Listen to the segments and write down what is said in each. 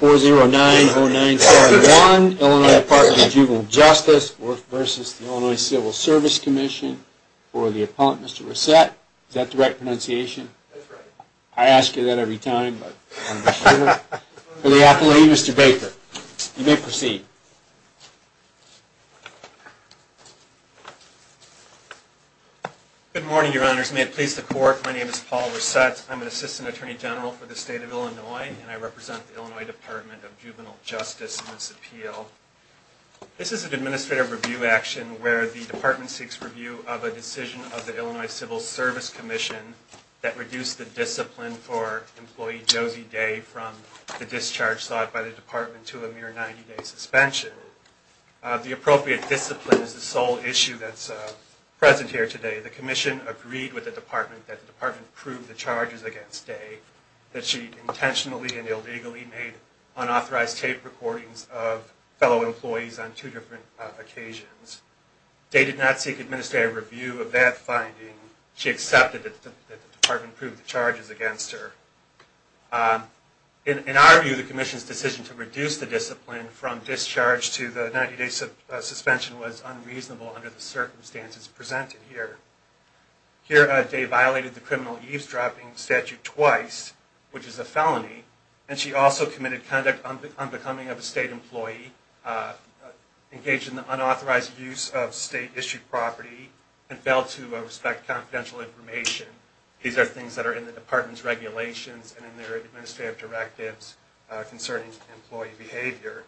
4090971 Illinois Department of Juvenile Justice v. The Illinois Civil Service Commission for the appellant, Mr. Resett. Is that the right pronunciation? That's right. I ask you that every time. For the appellate, Mr. Baker. You may proceed. Good morning, your honors. May it please the court, my name is Paul Resett. I'm an assistant attorney general for the state of Illinois Department of Juvenile Justice and its appeal. This is an administrative review action where the department seeks review of a decision of the Illinois Civil Service Commission that reduced the discipline for employee Josie Day from the discharge sought by the department to a mere 90-day suspension. The appropriate discipline is the sole issue that's present here today. The commission agreed with the department that the department proved the unauthorized tape recordings of fellow employees on two different occasions. Day did not seek administrative review of that finding. She accepted that the department proved the charges against her. In our view, the commission's decision to reduce the discipline from discharge to the 90-day suspension was unreasonable under the circumstances presented here. Here, Day violated the criminal eavesdropping statute twice, which is a felony, and she also committed conduct unbecoming of a state employee, engaged in the unauthorized use of state-issued property, and failed to respect confidential information. These are things that are in the department's regulations and in their administrative directives concerning employee behavior.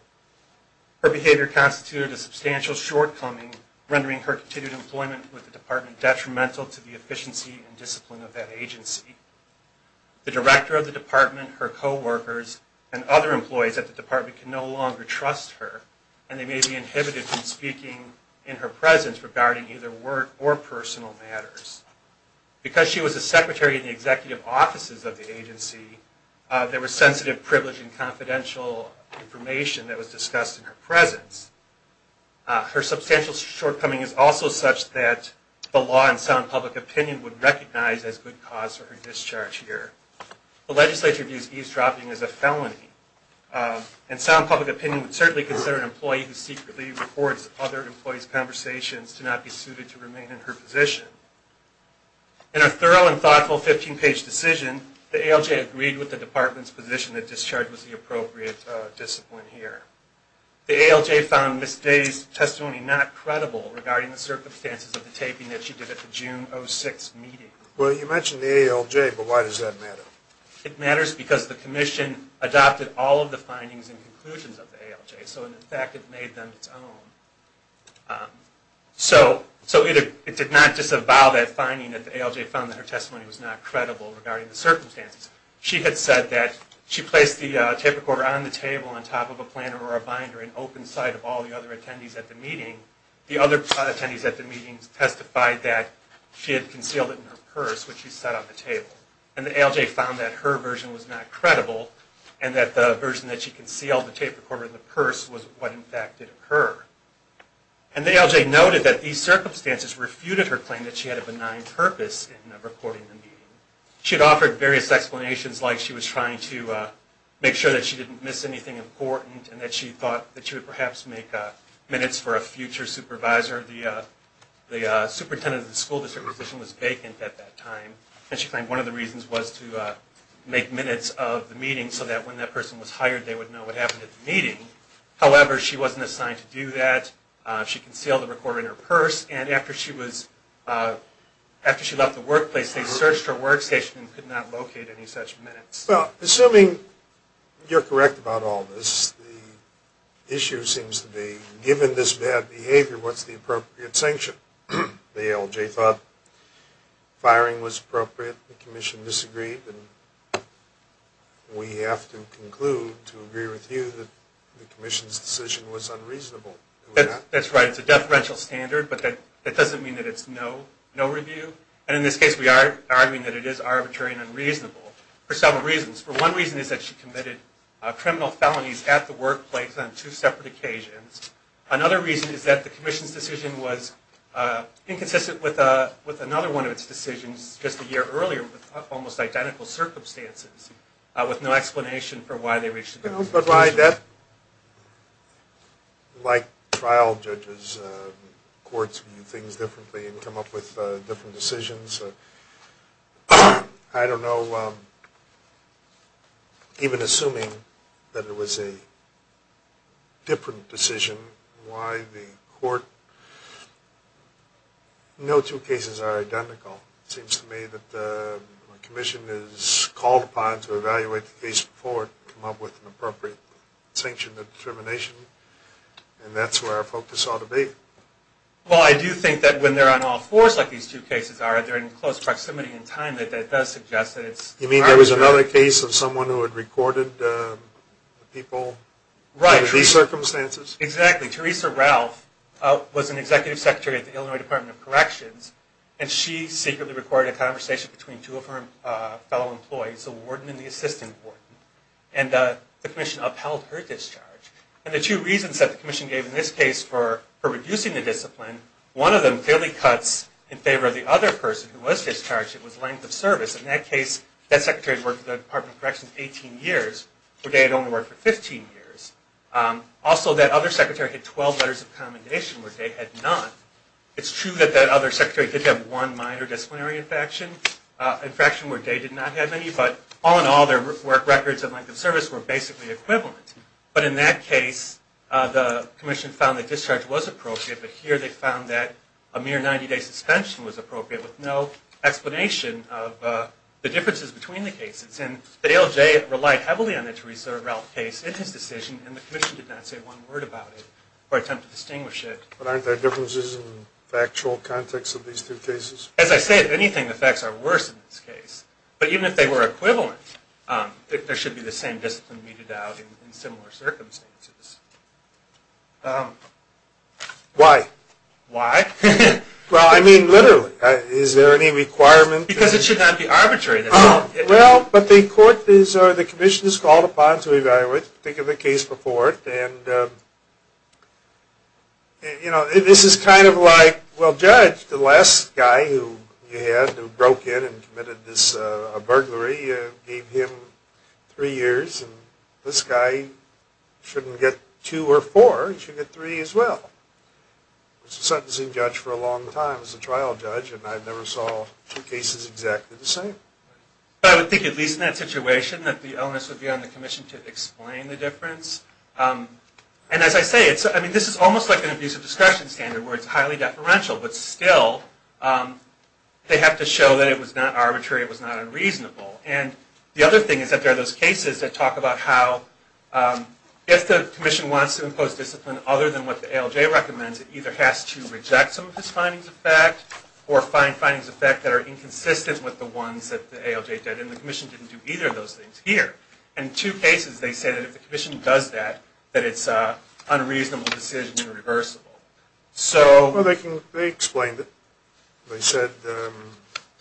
Her behavior constituted a substantial shortcoming, rendering her continued employment with the department detrimental to the efficiency and discipline of that agency. The director of the department, her co-workers, and other employees at the department can no longer trust her, and they may be inhibited from speaking in her presence regarding either work or personal matters. Because she was a secretary in the executive offices of the agency, there was sensitive privilege and confidential information that was discussed in her presence. Her substantial shortcoming is also such that the law and sound public opinion would recognize as good cause for discharge here. The legislature views eavesdropping as a felony, and sound public opinion would certainly consider an employee who secretly records other employees' conversations to not be suited to remain in her position. In a thorough and thoughtful 15-page decision, the ALJ agreed with the department's position that discharge was the appropriate discipline here. The ALJ found Ms. Day's testimony not credible regarding the circumstances of the taping that she did at the meeting. It matters because the commission adopted all of the findings and conclusions of the ALJ, so in fact it made them its own. So it did not disavow that finding that the ALJ found that her testimony was not credible regarding the circumstances. She had said that she placed the tape recorder on the table on top of a planner or a binder in open sight of all the other attendees at the meeting. The other attendees at the meeting testified that she had concealed it in her purse, which she set on the table. And the ALJ found that her version was not credible, and that the version that she concealed the tape recorder in the purse was what in fact did occur. And the ALJ noted that these circumstances refuted her claim that she had a benign purpose in recording the meeting. She had offered various explanations, like she was trying to make sure that she didn't miss anything important, and that she thought that she would perhaps make minutes for a future supervisor. The superintendent of the school district position was vacant at that time, and she claimed one of the reasons was to make minutes of the meeting so that when that person was hired, they would know what happened at the meeting. However, she wasn't assigned to do that. She concealed the recorder in her purse, and after she was, after she left the workplace, they searched her workstation and could not locate any such minutes. Well, assuming you're correct about all this, the issue seems to be, given this bad behavior, what's the appropriate sanction? The ALJ thought firing was appropriate. The commission disagreed, and we have to conclude to agree with you that the commission's decision was unreasonable. That's right. It's a deferential standard, but that doesn't mean that it's no review. And in this case, we are arguing that it is arbitrary and unreasonable for several reasons. For one reason is that she committed criminal felonies at the workplace on two separate occasions. Another reason is that the commission's decision was inconsistent with another one of its decisions just a year earlier, with almost identical circumstances, with no explanation for why they reached a different conclusion. But why that, like trial judges, courts do things differently and come up with different decisions. I don't know. Even assuming that it was a different decision, why the court, no two cases are identical. It seems to me that the commission is called upon to evaluate the case before it can come up with appropriate sanction and determination, and that's where our focus ought to be. Well, I do think that when they're on all fours like these two cases are, they're in close proximity in time, that that does suggest that it's... You mean there was another case of someone who had recorded the people? Right. Under these circumstances? Exactly. Teresa Ralph was an executive secretary at the Illinois Department of Corrections, and she secretly recorded a system court, and the commission upheld her discharge. And the two reasons that the commission gave in this case for reducing the discipline, one of them clearly cuts in favor of the other person who was discharged, it was length of service. In that case, that secretary had worked at the Department of Corrections 18 years, where Day had only worked for 15 years. Also, that other secretary had 12 letters of commendation, where Day had none. It's true that that other secretary did have one minor disciplinary infraction, infraction where Day did not have any, but all their work records and length of service were basically equivalent. But in that case, the commission found that discharge was appropriate, but here they found that a mere 90-day suspension was appropriate with no explanation of the differences between the cases. And the ALJ relied heavily on the Teresa Ralph case in his decision, and the commission did not say one word about it or attempt to distinguish it. But aren't there differences in the actual context of these two cases? As I said, if anything, the facts are worse in this case. But even if they were equivalent, there should be the same discipline meted out in similar circumstances. Why? Why? Well, I mean, literally. Is there any requirement? Because it should not be arbitrary. Well, but the court is, or the commission is called upon to evaluate, think of the case before it. And, you know, this is kind of like, well, Judge, the last guy who you had, who broke in and gave him three years, and this guy shouldn't get two or four, he should get three as well. He was a sentencing judge for a long time, he was a trial judge, and I never saw two cases exactly the same. I would think, at least in that situation, that the onus would be on the commission to explain the difference. And as I say, I mean, this is almost like an abusive discretion standard, where it's highly deferential. But still, they have to show that it was not arbitrary, it was not unreasonable. And the other thing is that there are those cases that talk about how, if the commission wants to impose discipline other than what the ALJ recommends, it either has to reject some of its findings of fact, or find findings of fact that are inconsistent with the ones that the ALJ did, and the commission didn't do either of those things here. In two cases, they said that if the commission does that, that it's an unreasonable decision and irreversible. Well, they explained it. They said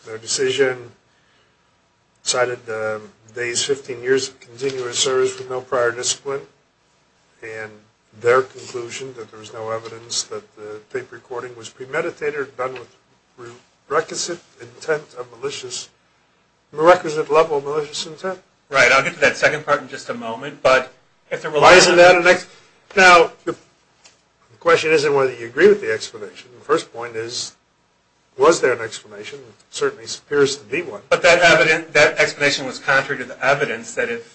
their decision cited the day's 15 years of continuous service with no prior discipline, and their conclusion that there was no evidence that the tape recording was premeditated, done with requisite intent of malicious, a requisite level of malicious intent. Right, I'll get to that second part in just a moment. Why isn't that an explanation? Now, the question isn't whether you agree with the explanation. The first point is, was there an explanation? It certainly appears to be one. But that explanation was contrary to the evidence that it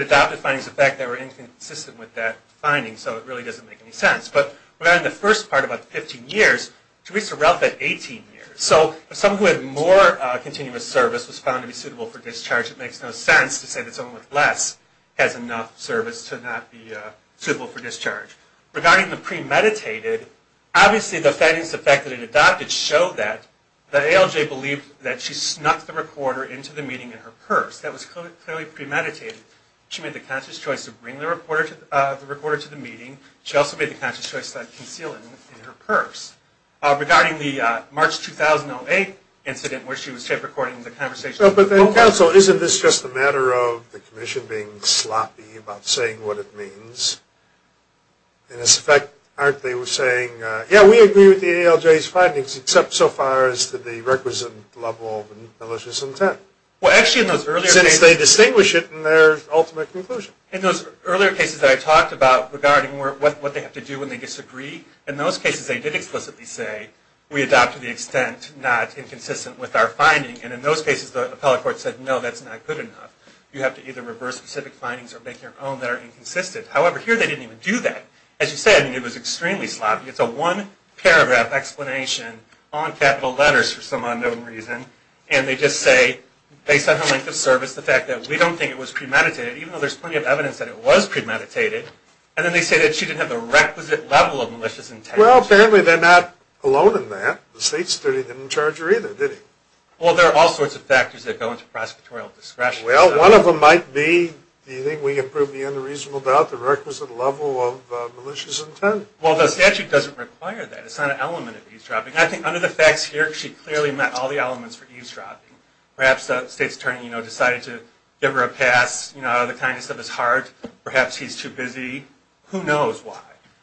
adopted findings of fact that were inconsistent with that finding, so it really doesn't make any sense. But we're in the first part about 15 years, Teresa Ralph had 18 years. So, if someone who had more continuous service was found to be suitable for discharge, it makes no sense to say that someone with less has enough service to not be suitable for discharge. Regarding the premeditated, obviously the findings of fact that it adopted show that the ALJ believed that she snuck the recorder into the meeting in her purse. That was clearly premeditated. She made the conscious choice of bringing the recorder to the meeting. She also made the conscious choice of concealing it in her purse. Regarding the March 2008 incident where she was tape recording the conversation. But then, counsel, isn't this just a matter of the commission being sloppy about saying what it means? In effect, aren't they saying, yeah, we agree with the ALJ's findings except so far as to the requisite level malicious intent? Well, actually, in those earlier cases... Since they distinguish it in their ultimate conclusion. In those earlier cases that I talked about regarding what they have to do when they disagree, in those cases they did explicitly say, we adopt to the extent not inconsistent with our finding, and in those cases the appellate court said, no, that's not good enough. You have to either reverse specific findings or make your own that are inconsistent. However, here they didn't even do that. As you said, it was extremely sloppy. It's a one paragraph explanation on capital letters for some unknown reason. And they just say, based on her length of service, the fact that we don't think it was premeditated, even though there's plenty of evidence that it was premeditated. And then they say that she didn't have the requisite level of malicious intent. Well, apparently they're not alone in that. The state's attorney didn't charge her either, did he? Well, there are all sorts of factors that go into prosecutorial discretion. Well, one of them might be, do you think we can prove beyond a reasonable doubt the requisite level of malicious intent? Well, the statute doesn't require that. It's not an element of eavesdropping. I think under the facts here, she clearly met all the elements for eavesdropping. Perhaps the state's attorney decided to give her a pass out of the kindness of his heart. Perhaps he's too busy. Who knows why?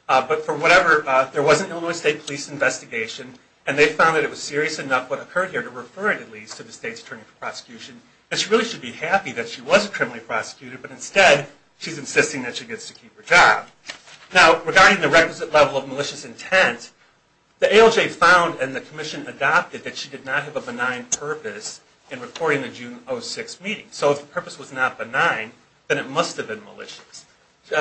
But for whatever, there was an Illinois State Police investigation. And they found that it was serious enough, what occurred here, to refer it, at least, to the state's attorney for prosecution. And she really should be happy that she wasn't criminally prosecuted. But instead, she's insisting that she gets to keep her job. Now, regarding the requisite level of malicious intent, the ALJ found and the commission adopted that she did not have a benign purpose in recording the June 06 meeting.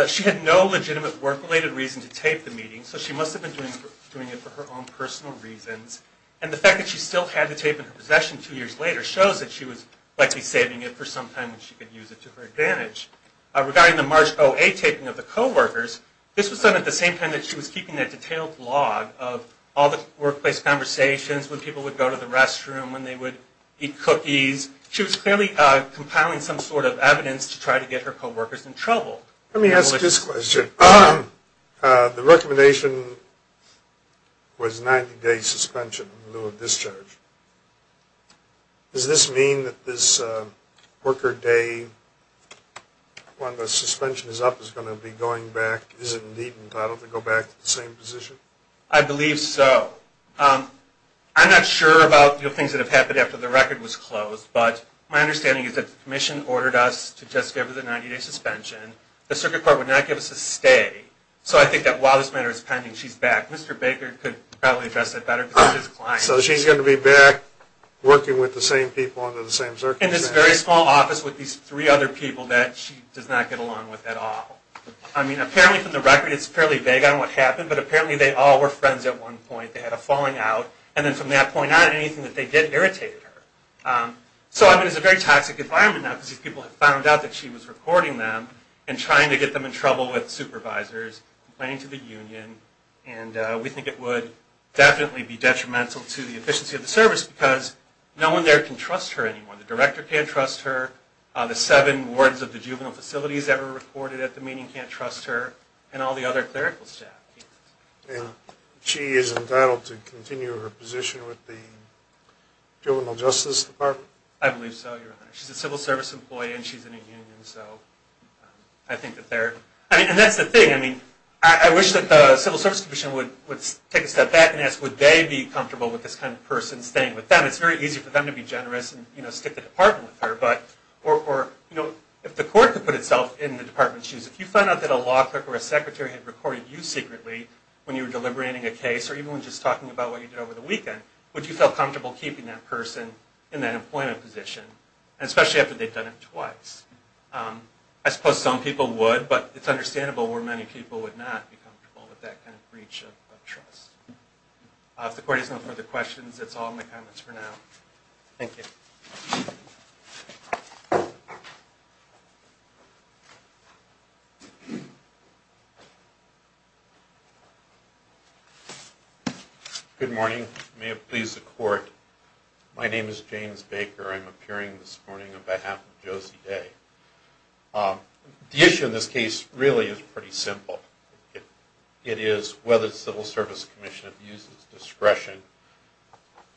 She had no legitimate work-related reason to tape the meeting. So she must have been doing it for her own personal reasons. And the fact that she still had the tape in her possession two years later shows that she was likely saving it for some time when she could use it to her advantage. Regarding the March 08 taping of the co-workers, this was done at the same time that she was keeping that detailed log of all the workplace conversations, when people would go to the restroom, when they would eat cookies. She was clearly compiling some sort of evidence to try to get her co-workers in trouble. Let me ask this question. The recommendation was 90-day suspension in lieu of discharge. Does this mean that this worker day, when the suspension is up, is going to be going back? Is it indeed entitled to go back to the same position? I believe so. I'm not sure about things that have happened after the record was closed. But my understanding is that the Commission ordered us to just give her the 90-day suspension. The Circuit Court would not give us a stay. So I think that while this matter is pending, she's back. Mr. Baker could probably address that better because he's his client. So she's going to be back working with the same people under the same circumstances? In this very small office with these three other people that she does not get along with at all. I mean, apparently from the record, it's fairly vague on what happened. But apparently they all were friends at one point. They had a falling out. And then from that point on, anything that they did irritated her. So I mean, it's a very toxic environment now because these people have found out that she was recording them and trying to get them in trouble with supervisors, complaining to the union. And we think it would definitely be detrimental to the efficiency of the service because no one there can trust her anymore. The director can't trust her. The seven wards of the juvenile facilities that were recorded at the meeting can't trust her. And all the other clerical staff. And she is entitled to continue her position with the juvenile justice department? I believe so, your honor. She's a civil service employee and she's in a union. So I think that they're, I mean, and that's the thing. I mean, I wish that the civil service commission would take a step back and ask, would they be comfortable with this kind of person staying with them? It's very easy for them to be generous and stick the department with her. But or if the court could put itself in the department's shoes, if you find out that a when you were deliberating a case or even when just talking about what you did over the weekend, would you feel comfortable keeping that person in that employment position? And especially after they've done it twice. I suppose some people would, but it's understandable where many people would not be comfortable with that kind of breach of trust. If the court has no further questions, that's all my comments for now. Thank you. Good morning. May it please the court. My name is James Baker. I'm appearing this morning on behalf of Josie Day. The issue in this case really is pretty simple. It is whether the civil service commission uses discretion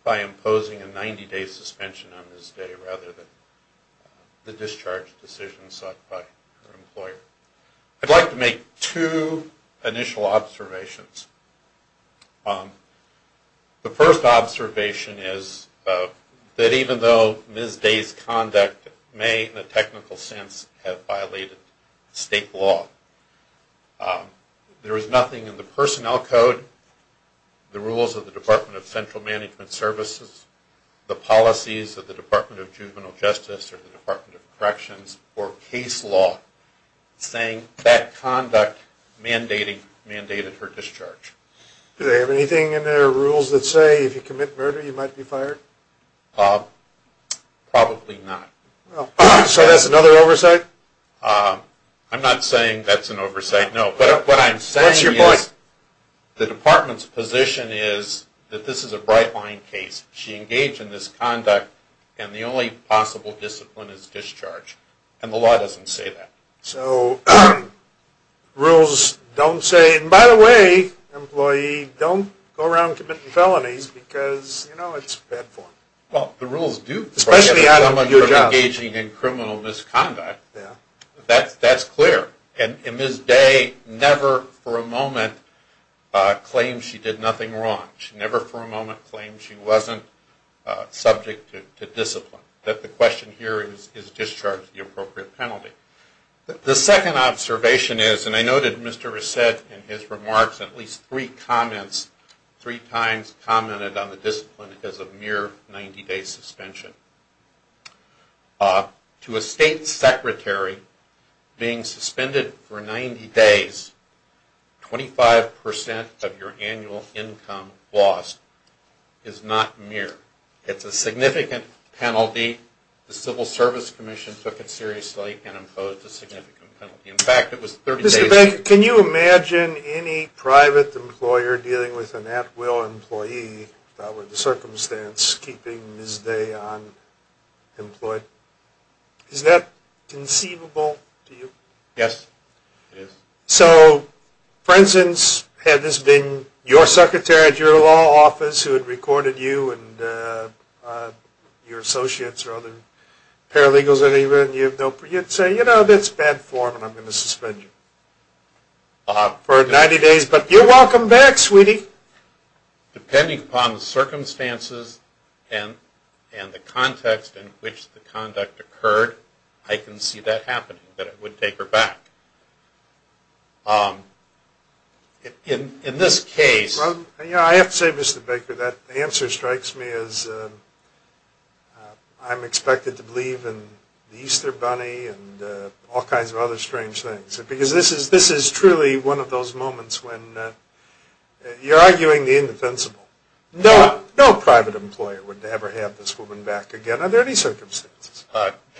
by imposing a 90-day suspension on this day rather than the discharge decision sought by her employer. I'd like to make two initial observations. The first observation is that even though Ms. Day's conduct may in a technical sense have violated state law, there is nothing in the personnel code, the rules of the Department of Central Management Services, the policies of the Department of Juvenile Justice or the department saying that conduct mandated her discharge. Do they have anything in their rules that say if you commit murder you might be fired? Probably not. So that's another oversight? I'm not saying that's an oversight, no. But what I'm saying is the department's position is that this is a bright line case. She engaged in this conduct and the only possible discipline is discharge. And the law doesn't say that. So rules don't say, and by the way, employee, don't go around committing felonies because you know it's bad form. Well, the rules do prohibit someone from engaging in criminal misconduct. That's clear. And Ms. Day never for a moment claimed she did nothing wrong. She never for a moment claimed she wasn't subject to discipline. The question here is discharge the appropriate penalty. The second observation is, and I noted Mr. Reset in his remarks at least three comments, three times commented on the discipline as a mere 90-day suspension. To a state secretary being suspended for 90 days, 25% of your annual income lost is not mere. It's a significant penalty. The Civil Service Commission took it seriously and imposed a significant penalty. In fact, it was 30 days. Can you imagine any private employer dealing with an at-will employee without the circumstance keeping Ms. Day unemployed? Is that conceivable to you? Yes, it is. So for instance, had this been your secretary at your law office who had recorded you and your associates or other paralegals, you'd say, you know, that's bad form and I'm going to suspend you for 90 days. But you're welcome back, sweetie. Depending upon the circumstances and the context in which the conduct occurred, I can see that happening. But it would take her back. In this case... Well, you know, I have to say, Mr. Baker, that answer strikes me as I'm expected to believe in the Easter Bunny and all kinds of other strange things. Because this is truly one of those moments when you're arguing the indefensible. No private employer would ever have this woman back again under any circumstances.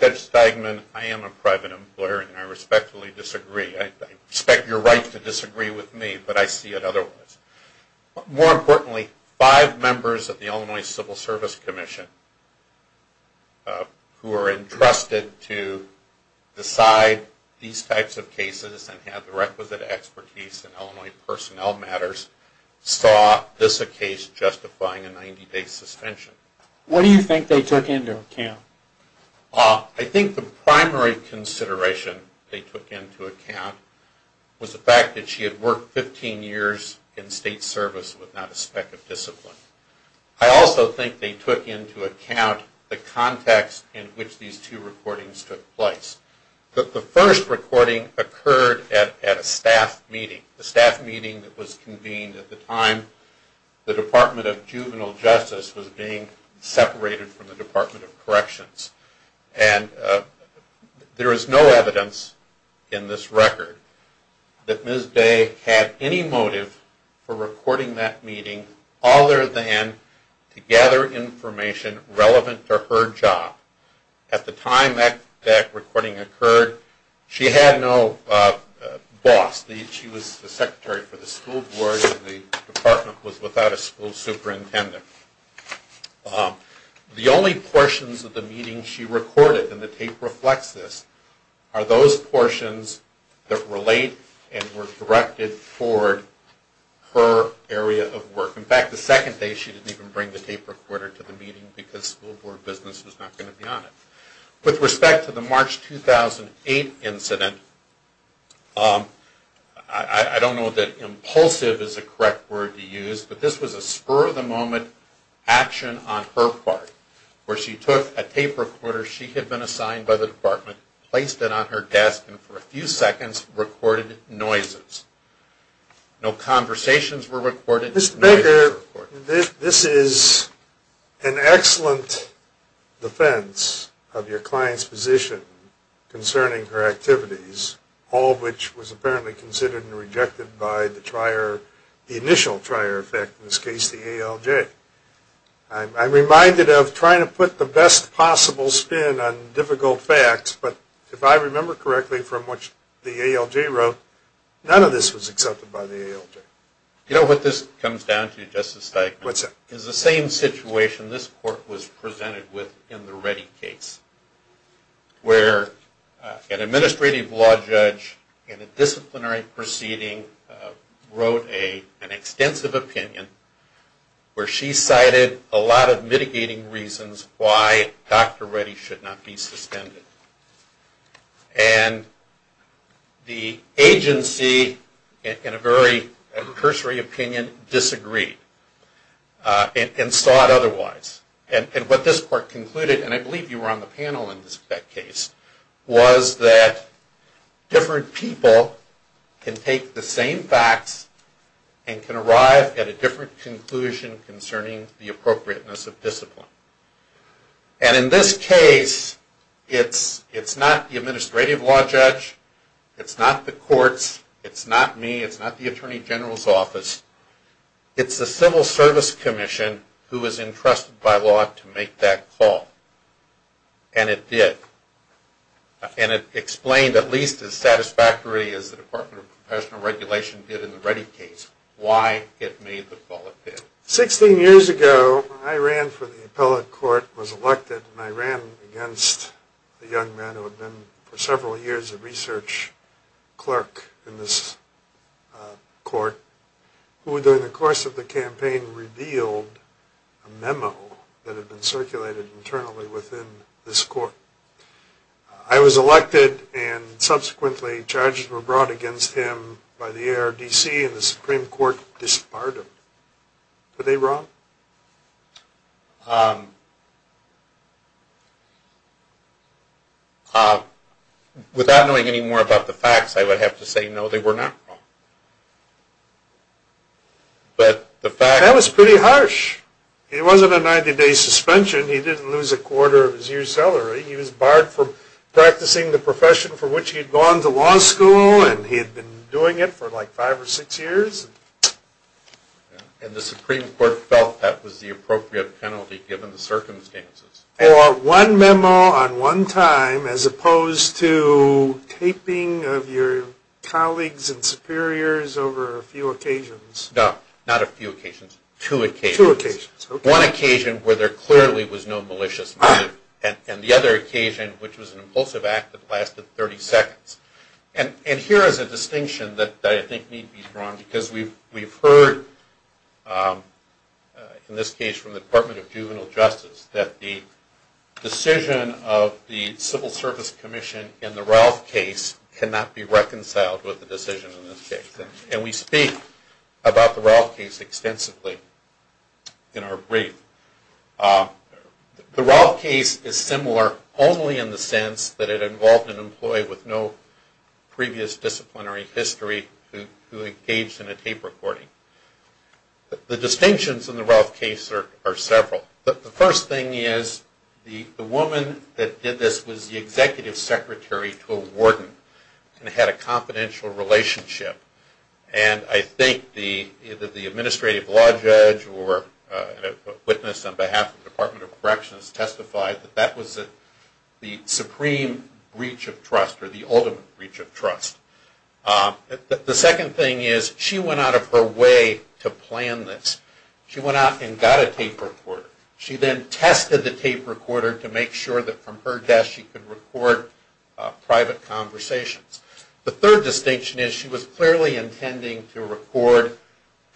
Judge Steigman, I am a private employer and I respectfully disagree. I respect your right to disagree with me, but I see it otherwise. More importantly, five members of the Illinois Civil Service Commission who are entrusted to decide these types of cases and have the requisite expertise in Illinois personnel matters saw this a case justifying a 90-day suspension. What do you think they took into account? I think the primary consideration they took into account was the fact that she had worked 15 years in state service with not a speck of discipline. I also think they took into account the context in which these two recordings took place. The first recording occurred at a staff meeting. The staff meeting that was convened at the time the Department of Juvenile Justice was being separated from the Department of Corrections. And there is no evidence in this record that Ms. Day had any motive for recording that meeting other than to gather information relevant to her job. At the time that recording occurred, she had no boss. She was the secretary for the school board and the department was without a school superintendent. The only portions of the meeting she recorded, and the tape reflects this, are those portions that relate and were directed toward her area of work. In fact, the second day she didn't even bring the tape recorder to the meeting because school board business was not going to be on it. With respect to the March 2008 incident, I don't know that impulsive is a correct word to use, but this was a spur of the moment action on her part where she took a tape recorder she had been assigned by the department, placed it on her desk, and for a few seconds recorded noises. No conversations were recorded. Mr. Baker, this is an excellent defense of your client's position concerning her activities, all of which was apparently considered and rejected by the initial trier, in this case the ALJ. I'm reminded of trying to put the best possible spin on difficult facts, but if I remember correctly from what the ALJ wrote, none of this was accepted by the ALJ. You know what this comes down to, Justice Steikman? What's that? Is the same situation this court was presented with in the Reddy case, where an administrative law judge in a disciplinary proceeding wrote an extensive opinion where she cited a lot of mitigating reasons why Dr. Reddy should not be suspended. And the agency in a very cursory opinion disagreed and saw it otherwise. And what this court concluded, and I believe you were on the panel in that case, was that different people can take the same facts and can arrive at a different conclusion concerning the appropriateness of discipline. And in this case, it's not the administrative law judge, it's not the courts, it's not me, it's not the Attorney General's office, it's the Civil Service Commission who was entrusted by law to make that call. And it did. And it explained, at least as satisfactory as the Department of Professional Regulation did in the Reddy case, why it made the call it did. Sixteen years ago, I ran for the appellate court, was elected, and I ran against the young men who had been for several years a research clerk in this court, who during the course of the campaign revealed a memo that had been circulated internally within this court. I was elected, and subsequently charges were brought against him by the ARDC, and the Supreme Court disbarred him. Were they wrong? Without knowing any more about the facts, I would have to say no, they were not wrong. But the fact... That was pretty harsh. It wasn't a 90-day suspension. He didn't lose a quarter of his year's salary. He was barred from practicing the profession for which he had gone to law school, and he had been doing it for like five or six years. And the Supreme Court felt that was the appropriate penalty given the circumstances. For one memo on one time, as opposed to taping of your colleagues and superiors over a few occasions. No, not a few occasions. Two occasions. One occasion where there clearly was no malicious motive. And the other occasion, which was an impulsive act that lasted 30 seconds. And here is a distinction that I think need to be drawn, because we've heard, in this case from the Department of Juvenile Justice, that the decision of the Civil Service Commission in the Ralph case cannot be reconciled with the decision in this case. And we speak about the Ralph case extensively in our brief. The Ralph case is similar only in the sense that it involved an employee with no previous disciplinary history who engaged in a tape recording. The distinctions in the Ralph case are several. The first thing is the woman that did this was the executive secretary to a warden and had a confidential relationship. And I think either the administrative law judge or a witness on behalf of the Department of Corrections testified that that was the supreme breach of trust or the ultimate breach of trust. The second thing is she went out of her way to plan this. She went out and got a tape recorder. She then tested the tape recorder to make sure that from her desk she could record private conversations. The third distinction is she was clearly intending to record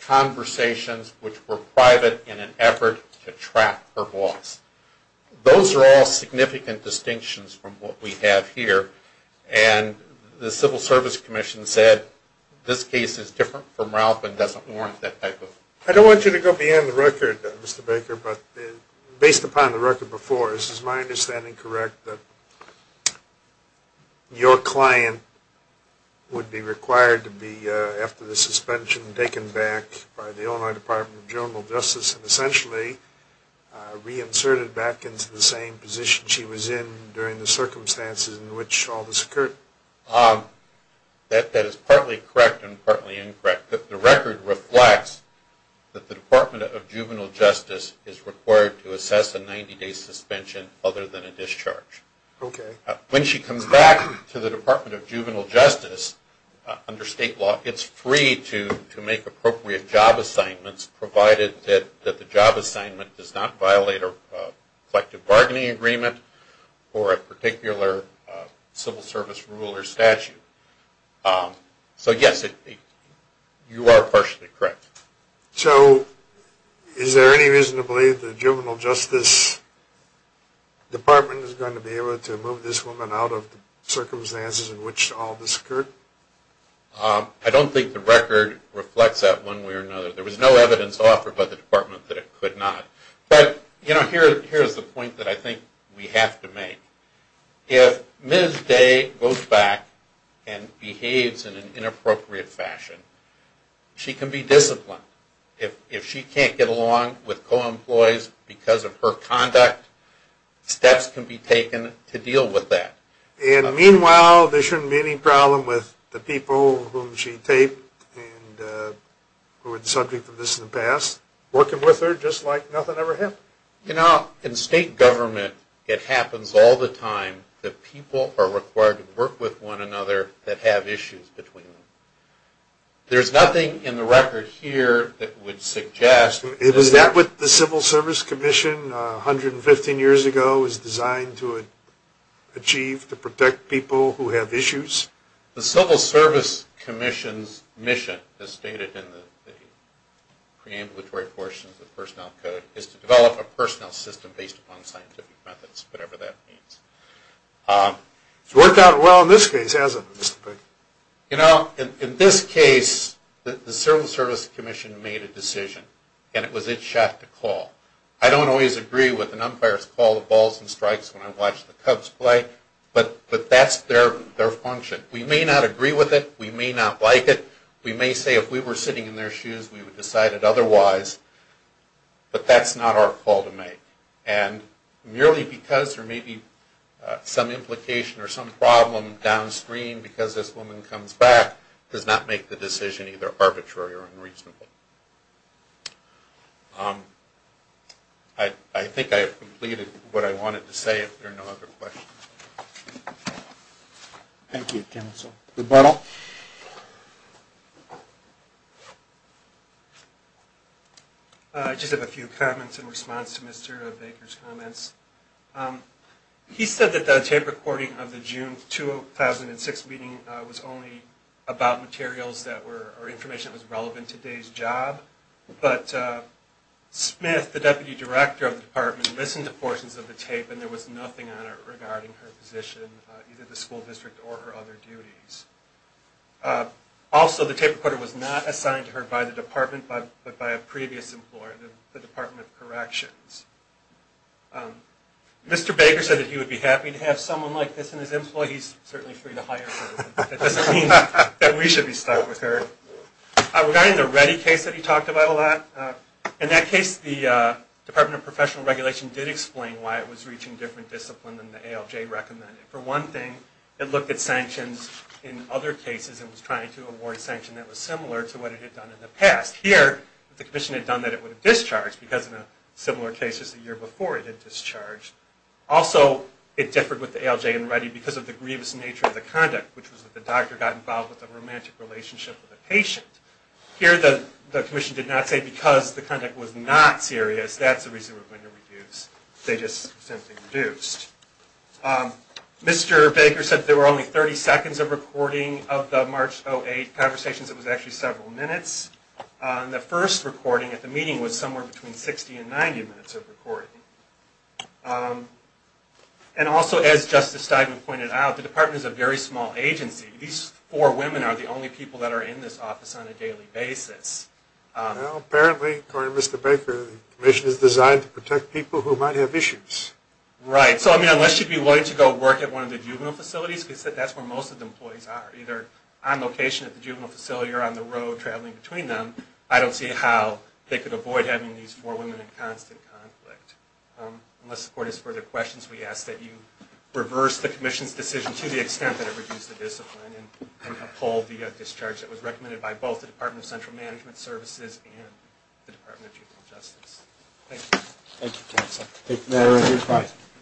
conversations which were private in an effort to trap her boss. Those are all significant distinctions from what we have here. And the Civil Service Commission said this case is different from Ralph and doesn't warrant that type of... I don't want you to go beyond the record, Mr. Baker, but based upon the record before, is my understanding correct that your client would be required to be, after the suspension, taken back by the Illinois Department of Juvenile Justice and essentially reinserted back into the same position she was in during the circumstances in which all this occurred? That is partly correct and partly incorrect. The record reflects that the Department of Juvenile Justice is required to assess a 90 day suspension other than a discharge. When she comes back to the Department of Juvenile Justice under state law, it's free to make appropriate job assignments provided that the job assignment does not violate a collective bargaining agreement or a particular civil service rule or statute. So yes, you are partially correct. So is there any reason to believe the Juvenile Justice Department is going to be able to move this woman out of the circumstances in which all this occurred? I don't think the record reflects that one way or another. There was no evidence offered by the Department that it could not. But here is the point that I think we have to make. If Ms. Day goes back and behaves in an inappropriate fashion, she can be disciplined. If she can't get along with co-employees because of her conduct, steps can be taken to deal with that. And meanwhile, there shouldn't be any problem with the people whom she taped and who were the subject of this in the past working with her just like nothing ever happened? You know, in state government, it happens all the time that people are required to work with one another that have issues between them. There's nothing in the record here that would suggest... Is that what the Civil Service Commission 115 years ago was designed to achieve to protect people who have issues? The Civil Service Commission's mission, as stated in the preambulatory portions of the record, was to create a personnel system based upon scientific methods, whatever that means. It's worked out well in this case, hasn't it, Mr. Pink? You know, in this case, the Civil Service Commission made a decision and it was its shot to call. I don't always agree with an umpire's call to balls and strikes when I watch the Cubs play, but that's their function. We may not agree with it. We may not like it. We may say if we were sitting in their shoes, we would decide it otherwise. But that's not our call to make. And merely because there may be some implication or some problem downstream because this woman comes back does not make the decision either arbitrary or unreasonable. I think I have completed what I wanted to say. If there are no other questions. Thank you, Counsel. Goodbye all. I just have a few comments in response to Mr. Baker's comments. He said that the tape recording of the June 2006 meeting was only about materials that were, or information that was relevant to today's job. But Smith, the Deputy Director of the Department, listened to portions of the tape and there was nothing on it regarding her position, either the school district or her other duties. Also, the tape recorder was not assigned to her by the department, but by a previous employer, the Department of Corrections. Mr. Baker said that he would be happy to have someone like this in his employ. He's certainly free to hire her, but that doesn't mean that we should be stuck with her. Regarding the Reddy case that he talked about a lot, in that case the Department of Professional Regulation did explain why it was reaching different discipline than the ALJ recommended. For one thing, it looked at sanctions in other cases and was trying to award sanction that was similar to what it had done in the past. Here, the commission had done that it would have discharged because in similar cases the year before it had discharged. Also, it differed with the ALJ and Reddy because of the grievous nature of the conduct, which was that the doctor got involved with a romantic relationship with a patient. Here, the commission did not say because the conduct was not serious, that's the reason we're going to reduce. They just simply reduced. Mr. Baker said there were only 30 seconds of recording of the March 08 conversations. It was actually several minutes. The first recording at the meeting was somewhere between 60 and 90 minutes of recording. Also, as Justice Steinman pointed out, the department is a very small agency. These four women are the only people that are in this office on a daily basis. Well, apparently, according to Mr. Baker, the commission is designed to protect people who might have issues. Right, so I mean, unless you'd be willing to go work at one of the juvenile facilities, because that's where most of the employees are, either on location at the juvenile facility or on the road traveling between them, I don't see how they could avoid having these four women in constant conflict. Unless the court has further questions, we ask that you reverse the commission's decision to the extent that it reduces the discipline and uphold the discharge that was recommended by both the Department of Central Management Services and the Department of Juvenile Justice. Thank you. Thank you, counsel. Thank you.